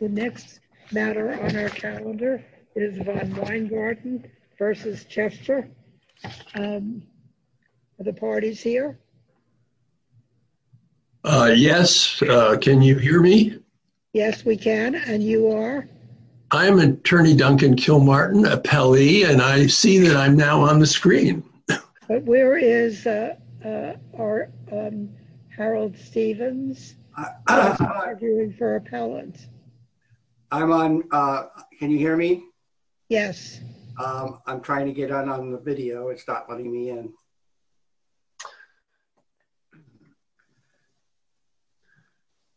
The next matter on our calendar is von Weingarten v. Chester. Are the parties here? Yes. Can you hear me? Yes, we can. And you are? I'm attorney Duncan Kilmartin, appellee, and I see that I'm now on the screen. Where is Harold Stevens? I'm on. Can you hear me? Yes. I'm trying to get on the video. It's not letting me in.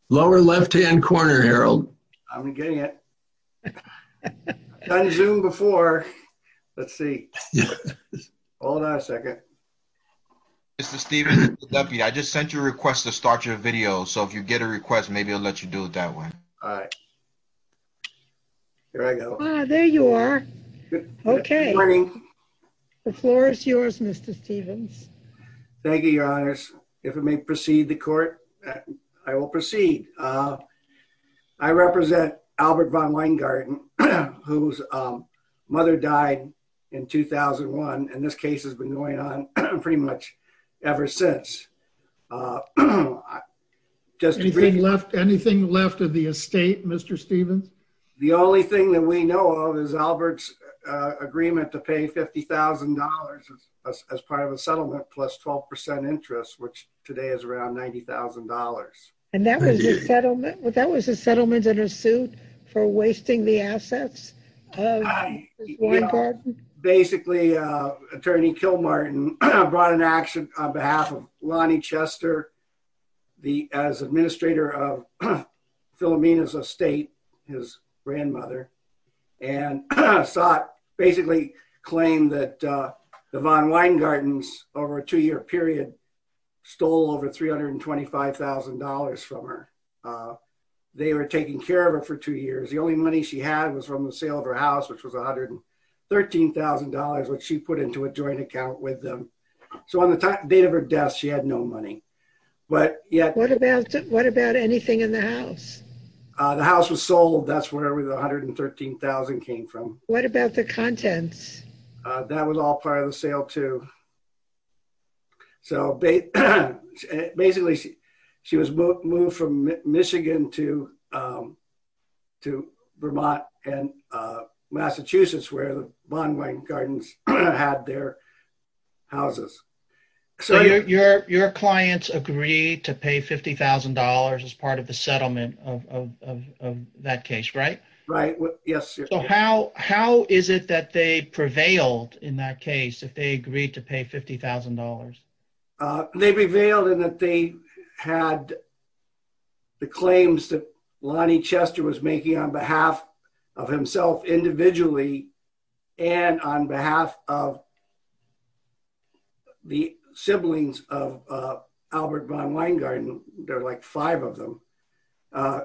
Lower left hand corner, Harold. I'm getting it. Zoom before. Let's see. Hold on a second. Mr. Stevens. I just sent you a request to start your video. So if you get a request, maybe I'll let you do it that way. All right. There you are. Okay. The floor is yours, Mr. Stevens. Thank you, your honors. If it may proceed the court. I will proceed. I represent Albert von Weingarten. Whose mother died in 2001. And this case has been going on pretty much. Ever since. Just anything left of the estate, Mr. Stevens. The only thing that we know of is Albert's agreement to pay $50,000. As part of a settlement plus 12% interest, which today is around $90,000. And that was a settlement. That was a settlement in a suit. For wasting the assets. Basically attorney kill Martin. I brought an action on behalf of Lonnie Chester. The as administrator of. Philomena's estate. His grandmother. And I saw it basically claim that the Von Weingarten's over a two-year period. Stole over $325,000 from her. They were taking care of it for two years. The only money she had was from the sale of her house, which was a hundred. $13,000, which she put into a joint account with them. So on the top date of her death, she had no money. But yeah. What about anything in the house? The house was sold. That's where we, the 113,000 came from. What about the contents? That was all part of the sale too. So. Basically. She was moved from Michigan to. To Vermont and Massachusetts where the bond. Gardens. Had their. Houses. So your, your, your clients agree to pay $50,000 as part of the settlement of, of, of, of that case, right? Right. Yes. How, how is it that they prevailed in that case? If they agreed to pay $50,000. They prevailed in that they had. The claims that Lonnie Chester was making on behalf. Of himself individually. And on behalf of. The siblings of Albert Von Weingarten. They're like five of them.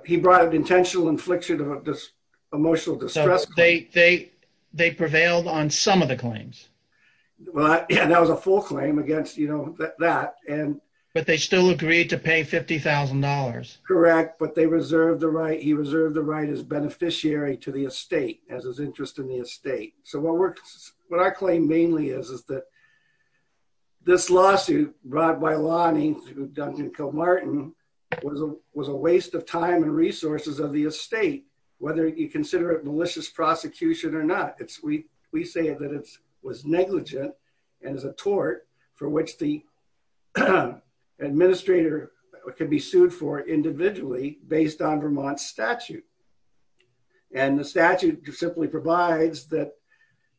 He brought an intentional infliction of this. Emotional distress. They prevailed on some of the claims. Well, yeah, that was a full claim against, you know, that, that, and. But they still agreed to pay $50,000. Correct. Well, he, he was not, he was not convicted. But they reserved the right. He reserved the right as beneficiary to the estate as his interest in the estate. So what works. What I claim mainly is, is that. This lawsuit. Brought by Lonnie. Was a waste of time and resources of the estate, whether you consider it malicious prosecution or not. It's we, we say that it was negligent. It was negligent. It was a waste of time. And as a tort for which the. Administrator can be sued for individually based on Vermont statute. And the statute. Simply provides that.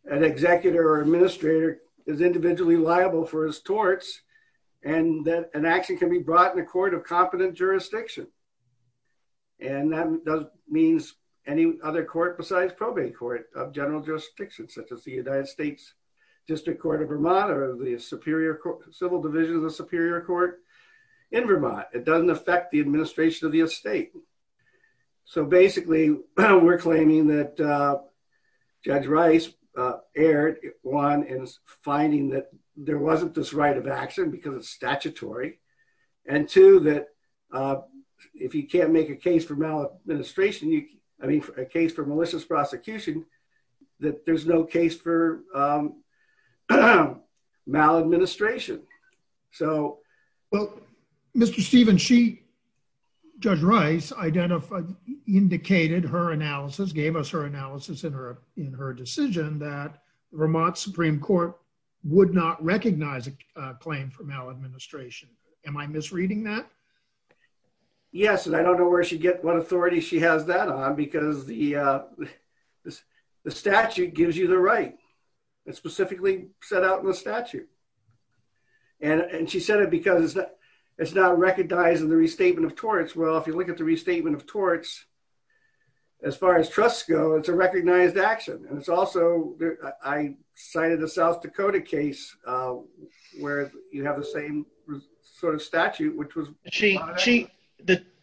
An executor or administrator is individually liable for his torts. And that an action can be brought in a court of competent jurisdiction. And that means any other court besides probate court of general jurisdiction, such as the United States district court of Vermont or the superior court, civil division of the superior court. In Vermont, it doesn't affect the administration of the estate. So basically. We're claiming that. Judge rice. Error. One is finding that there wasn't this right of action because it's statutory. And two that. If you can't make a case for maladministration, you. I mean, a case for malicious prosecution. That there's no case for. Maladministration. So. Well, Mr. Stephen, she. I don't know where she got that from. I don't know where she got that from. Judge rice identified. Indicated her analysis gave us her analysis in her. In her decision that Vermont Supreme court. Would not recognize a claim for maladministration. Am I misreading that? Yes. And I don't know where she'd get what authority she has that on, because the. The statute gives you the right. To make a case for. Maladministration. And specifically set out in the statute. And she said it because. It's not recognizing the restatement of torts. Well, if you look at the restatement of torts. As far as trusts go, it's a recognized action. And it's also, I cited the South Dakota case. Where you have the same. You have the same. You have the same. Sort of statute, which was she.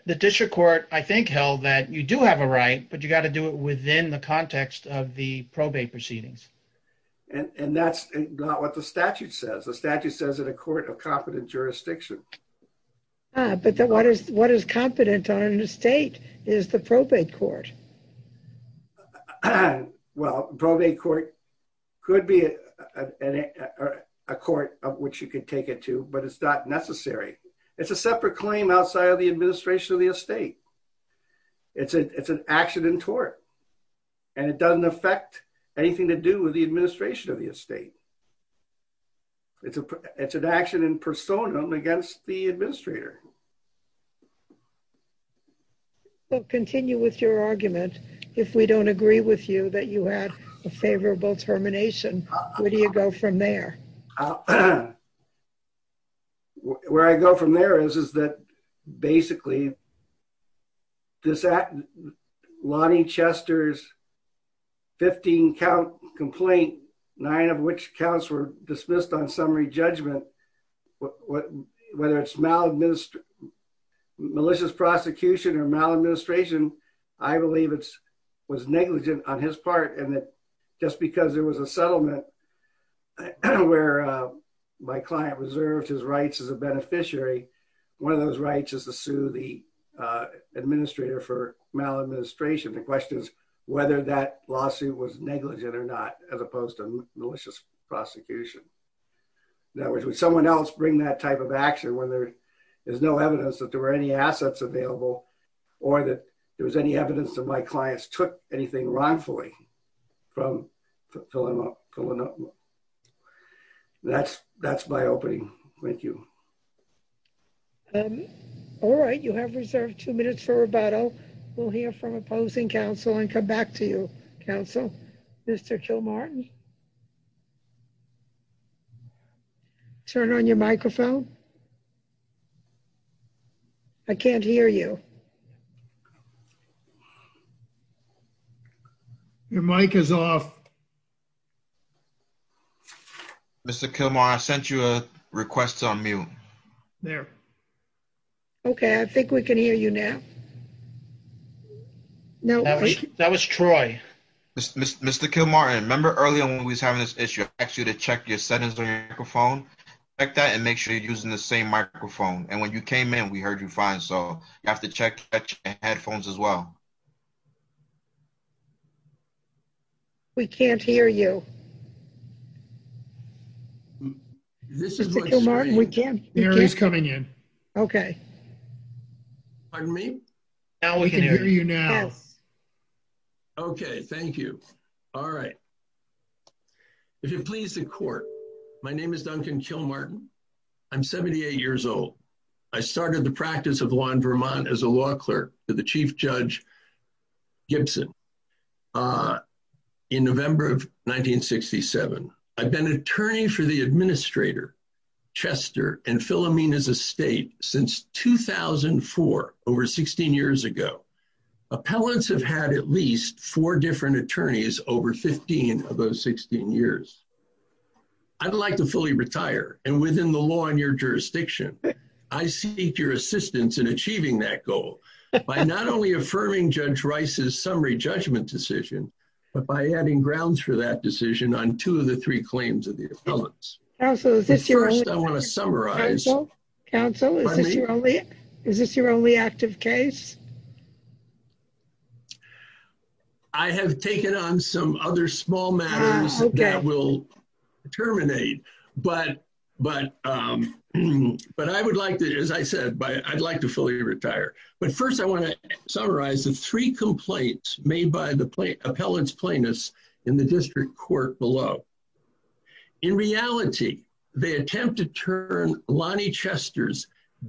The district court, I think held that you do have a right, but you got to do it within the context of the probate proceedings. And that's not what the statute says. The statute says that a court of competent jurisdiction. But then what is, what is competent on the state? Is the probate court. Well, probably court. It could be a court of which you could take it to, but it's not necessary. It's a separate claim outside of the administration of the estate. It's a, it's an action in tort. And it doesn't affect anything to do with the administration of the estate. Thank you. Thank you. We'll continue with your argument. If we don't agree with you that you had a favorable termination. Where do you go from there? Where I go from there is, is that basically. Does that. Lonnie Chester's. 15 Count complaint. I believe it's. Nine of which counts were dismissed on summary judgment. What. Whether it's malnourished. Malicious prosecution or maladministration. I believe it's. Was negligent on his part. And that just because there was a settlement. Where. My client reserved his rights as a beneficiary. And that's what I'm saying. That's what I'm saying. One of those rights is to sue the. Administrator for maladministration. The question is whether that lawsuit was negligent or not, as opposed to malicious prosecution. That was with someone else bring that type of action when there is no evidence that there were any assets available. Or that there was any evidence that my clients took anything wrong fully. That's my opening. Thank you. All right. You have reserved two minutes for rebuttal. We'll hear from opposing council and come back to you. Counsel. Mr. Joe Martin. Turn on your microphone. I can't hear you. I can't hear you. Your mic is off. Mr. Kilmer. I sent you a request on mute. There. Okay. I think we can hear you now. No, that was Troy. Okay. Mr. Kilmer. And remember earlier when we was having this issue, actually to check your sentence on your microphone. Like that and make sure you're using the same microphone. And when you came in, we heard you fine. So you have to check headphones as well. We can't. He's coming in. Okay. We can hear you now. Pardon me. Now we can hear you now. Okay. Thank you. All right. If you please the court. My name is Duncan kill Martin. I'm 78 years old. I started the practice of law in Vermont as a law clerk to the chief judge. Gibson. In November of 1967. I've been an attorney for the administrator. Chester and Philomene is a state since 2004, over 16 years ago. Appellants have had at least four different attorneys over 15 of those 16 years. I'd like to fully retire and within the law and your jurisdiction. I see your assistance in achieving that goal. By not only affirming judge Rice's summary judgment decision. But by adding grounds for that decision on two of the three claims of the appellants. First I want to summarize. Council. Is this your only active case? I have taken on some other small matters. Okay. Terminate. But, but, but I would like to, as I said, I'd like to fully retire, but first I want to summarize the three complaints made by the plain appellants plaintiffs in the district court below. In reality. They attempt to turn Lonnie Chester's.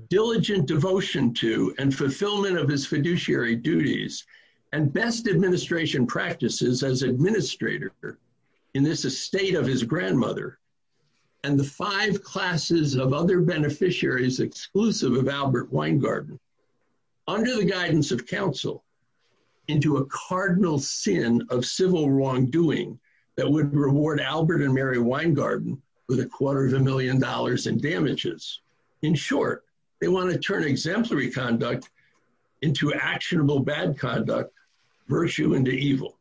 Diligent devotion to and fulfillment of his fiduciary duties. And best administration practices as administrator. In this estate of his grandmother. And the five classes of other beneficiaries exclusive of Albert Weingarten. Under the guidance of council. And to a cardinal sin of civil wrongdoing. That would reward Albert and Mary Weingarten. With a quarter of a million dollars in damages. In short, they want to turn exemplary conduct. Into actionable, bad conduct. Virtue into evil.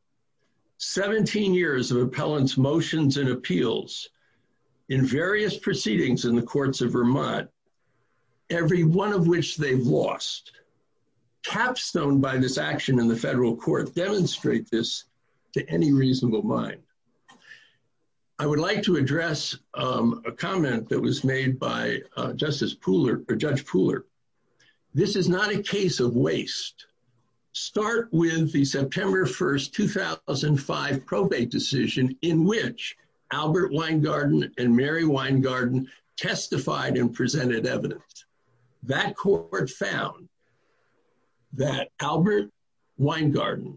17 years of appellants motions and appeals. In various proceedings in the courts of Vermont. Every one of which they've lost. Capstone by this action in the federal court demonstrate this. To any reasonable mind. I would like to address a comment that was made by justice pooler or judge pooler. This is not a case of waste. Start with the September 1st, 2005 probate decision in which Albert Weingarten and Mary Weingarten testified and presented evidence. That court found. That Albert. Weingarten.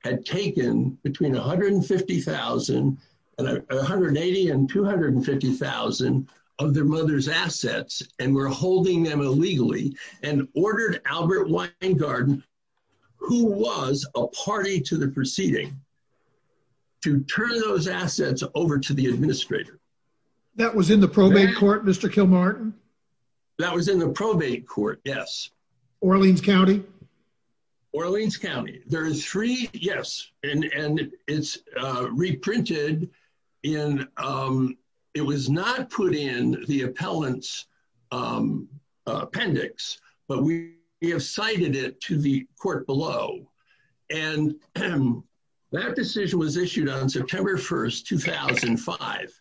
Had taken between 150,000. And 180 and 250,000. Of their mother's assets and we're holding them illegally. And ordered Albert Weingarten. Who was a party to the proceeding. To turn those assets over to the administrator. That was in the probate court, Mr. Kilmartin. That was in the probate court. Yes. Orleans County. Orleans County. There is three. Yes. And it's reprinted. And it was not put in the appellants. Appendix. But we have cited it to the court below. And. That decision was issued on September 1st, 2005.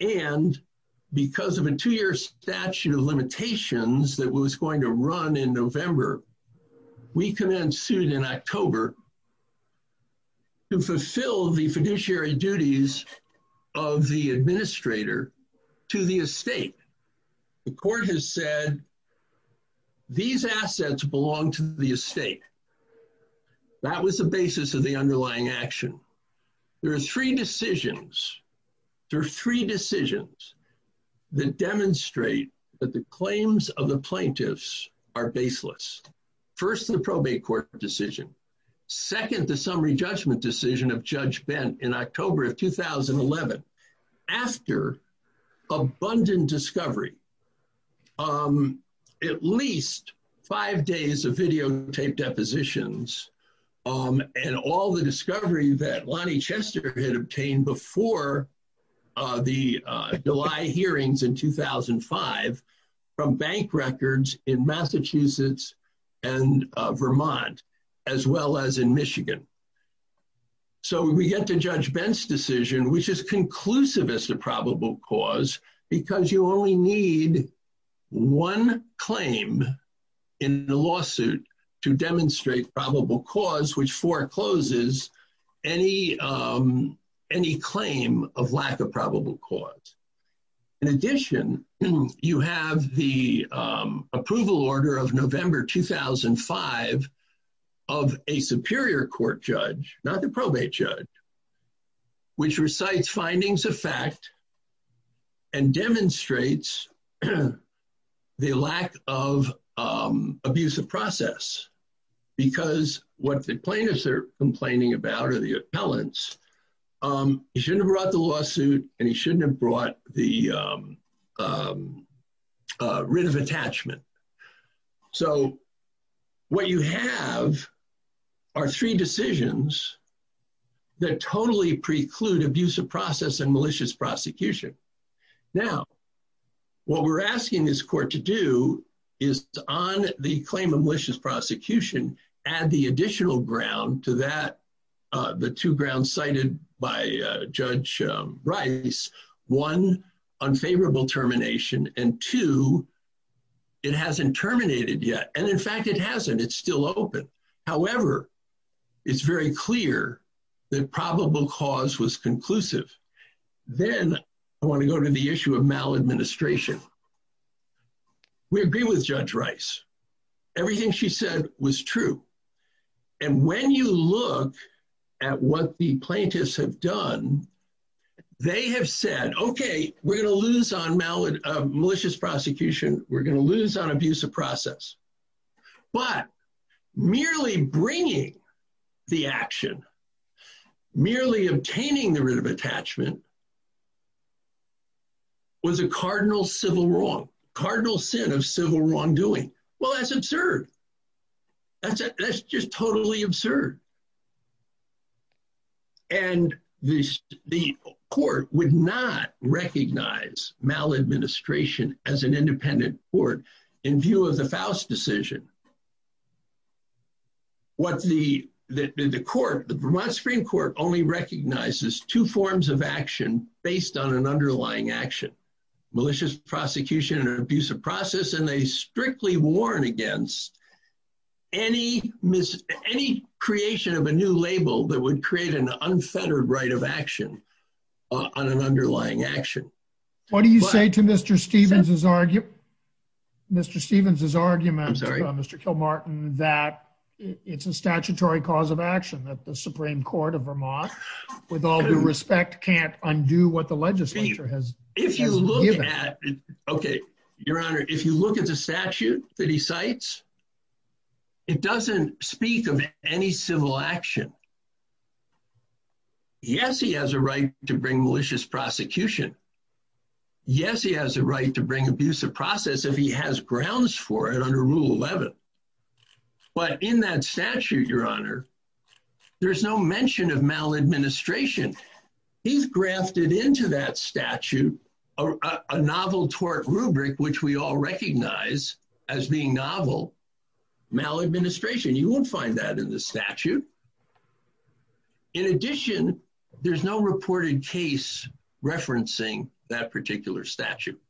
And because of a two-year statute of limitations that was going to run in November. We can then sued in October. To fulfill the fiduciary duties. Of the administrator. To the estate. The court has said. These assets belong to the estate. That was the basis of the underlying action. So. There are three decisions. There are three decisions. The demonstrate that the claims of the plaintiffs are baseless. First, the probate court decision. Second, the summary judgment decision of judge bent in October of 2011. After. Abundant discovery. At least five days of videotape depositions. And all the discovery that Lonnie Chester had obtained before. The July hearings in 2005. From bank records in Massachusetts. And Vermont. As well as in Michigan. So we get to judge Ben's decision, which is conclusive as to probable cause. Because you only need. One claim. In the lawsuit. To demonstrate probable cause, which forecloses. Any. Any claim of lack of probable cause. In addition, you have the approval order of November, 2005. Of a superior court judge, not the probate judge. Which recites findings of fact. And demonstrates. The lack of abusive process. Because what the plaintiffs are complaining about are the appellants. He shouldn't have brought the lawsuit and he shouldn't have brought the. Rid of attachment. So. What you have. Are three decisions. That totally preclude abusive process and malicious prosecution. Now. What we're asking this court to do. Is on the claim of malicious prosecution. Add the additional ground to that. The two grounds cited by judge. Right. One. Unfavorable termination and two. It hasn't terminated yet. And in fact, it hasn't, it's still open. However. It's very clear. The probable cause was conclusive. Then. I want to go to the issue of maladministration. We agree with judge rice. Everything she said was true. And when you look. At what the plaintiffs have done. They have said, okay, we're going to lose on mallet. Malicious prosecution. We're going to lose on abuse of process. But. Merely bringing. The action. Merely obtaining the rid of attachment. Was a cardinal civil wrong. Cardinal sin of civil wrongdoing. Well, that's absurd. That's just totally absurd. And this. The court would not recognize maladministration as an independent court. In view of the Faust decision. What's the, the, the, the court, the Vermont spring court only recognizes two forms of action based on an underlying action. Malicious prosecution and abuse of process. And they strictly warn against. Any mis any creation of a new label that would create an unfettered right of action. On an underlying action. What do you say to Mr. Stevens's argument? Mr. Stevens's argument. Mr. Kilmartin that it's a statutory cause of action that the Supreme court of Vermont. With all due respect, can't undo what the legislature has. If you look at. Okay. Your honor. If you look at the statute. That he cites. It doesn't speak of any civil action. Yes. He has a right to bring malicious prosecution. Yes. He has a right to bring abuse of process. If he has grounds for it under rule 11. But in that statute, your honor. There's no mention of maladministration. He's grafted into that statute. And if you look at. A novel tort rubric, which we all recognize as being novel. Maladministration. You won't find that in the statute. In addition, there's no reported case. Referencing that particular statute.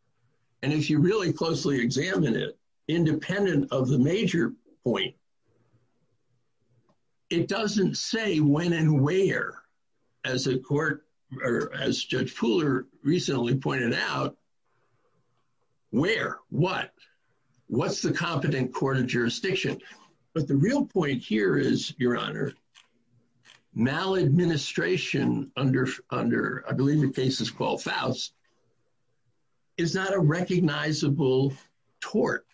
And if you really closely examine it. Independent of the major point. It doesn't say when and where. As a court. Or as judge Pooler recently pointed out. Where, what. What's the competent court of jurisdiction. But the real point here is your honor. Maladministration under, under, I believe the case is called Faust. Is that a recognizable tort?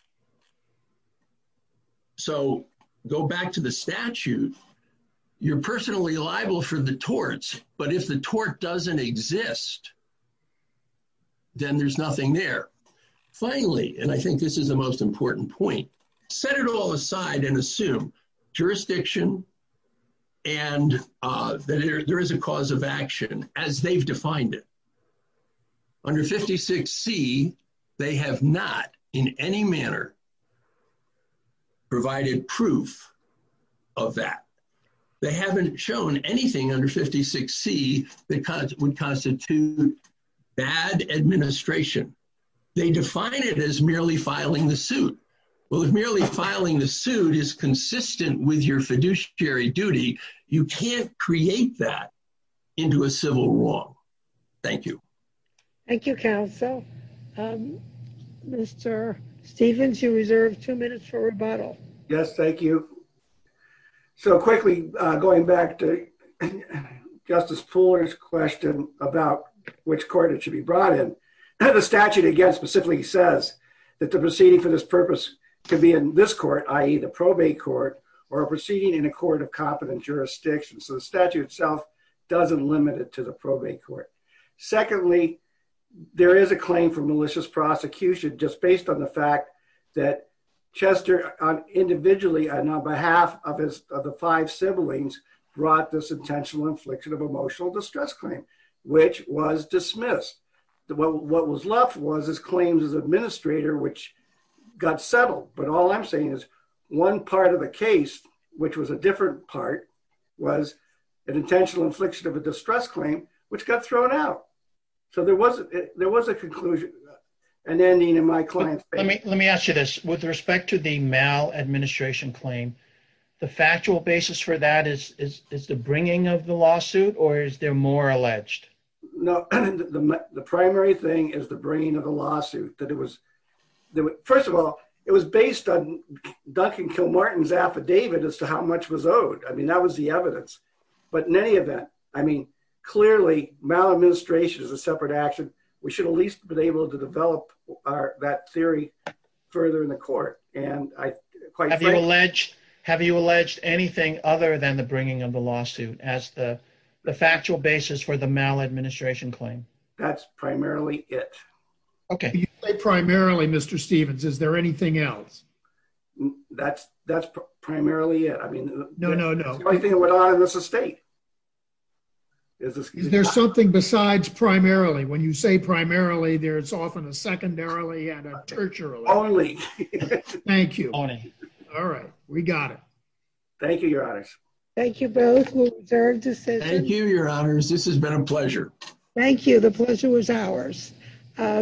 So go back to the statute. You're personally liable for the torts, but if the tort doesn't exist. Then there's nothing there. Finally, and I think this is the most important point. Set it all aside and assume jurisdiction. And there is a cause of action as they've defined it. Under 56 C. They have not in any manner. Provided proof. Of that. They haven't shown anything under 56 C. Because it would constitute. Bad administration. They define it as merely filing the suit. Well, if merely filing the suit is consistent with your fiduciary duty. You can't create that. Into a civil law. Thank you. Thank you counsel. Mr. Stevens, you reserved two minutes for rebuttal. Yes. Thank you. So quickly going back to. Justice Fuller's question about which court it should be brought in. The statute against specifically says that the proceeding for this purpose. Could be in this court, IE, the probate court. Or proceeding in a court of competent jurisdiction. So the statute itself. Doesn't limit it to the probate court. Secondly. There is a claim for malicious prosecution, just based on the fact. That Chester on individually. And on behalf of his, of the five siblings. Brought this intentional infliction of emotional distress claim. Which was dismissed. What was left was his claims as administrator, which. Got settled, but all I'm saying is one part of the case. Which was a different part. Was. An intentional infliction of a distress claim, which got thrown out. So there was, there was a conclusion. And then Nina, my client. Let me, let me ask you this with respect to the male administration claim. The factual basis for that is, is, is the bringing of the lawsuit or is there more alleged? No. The primary thing is the brain of the lawsuit that it was. First of all, it was based on. Duncan kill Martin's affidavit as to how much was owed. I mean, that was the evidence. But in any event, I mean, clearly. It's a separate action. We should at least be able to develop our, that theory. Further in the court. And I quite. Have you alleged anything other than the bringing of the lawsuit as the. The factual basis for the maladministration claim. That's primarily it. Okay. Primarily Mr. Stevens. Is there anything else? That's that's primarily it. I mean, no, no, no. I think it went on in this estate. Is there something besides primarily when you say primarily there it's often a secondarily. Thank you. All right. We got it. Thank you. Your eyes. Thank you both. Thank you, your honors. This has been a pleasure. Thank you. The pleasure was ours.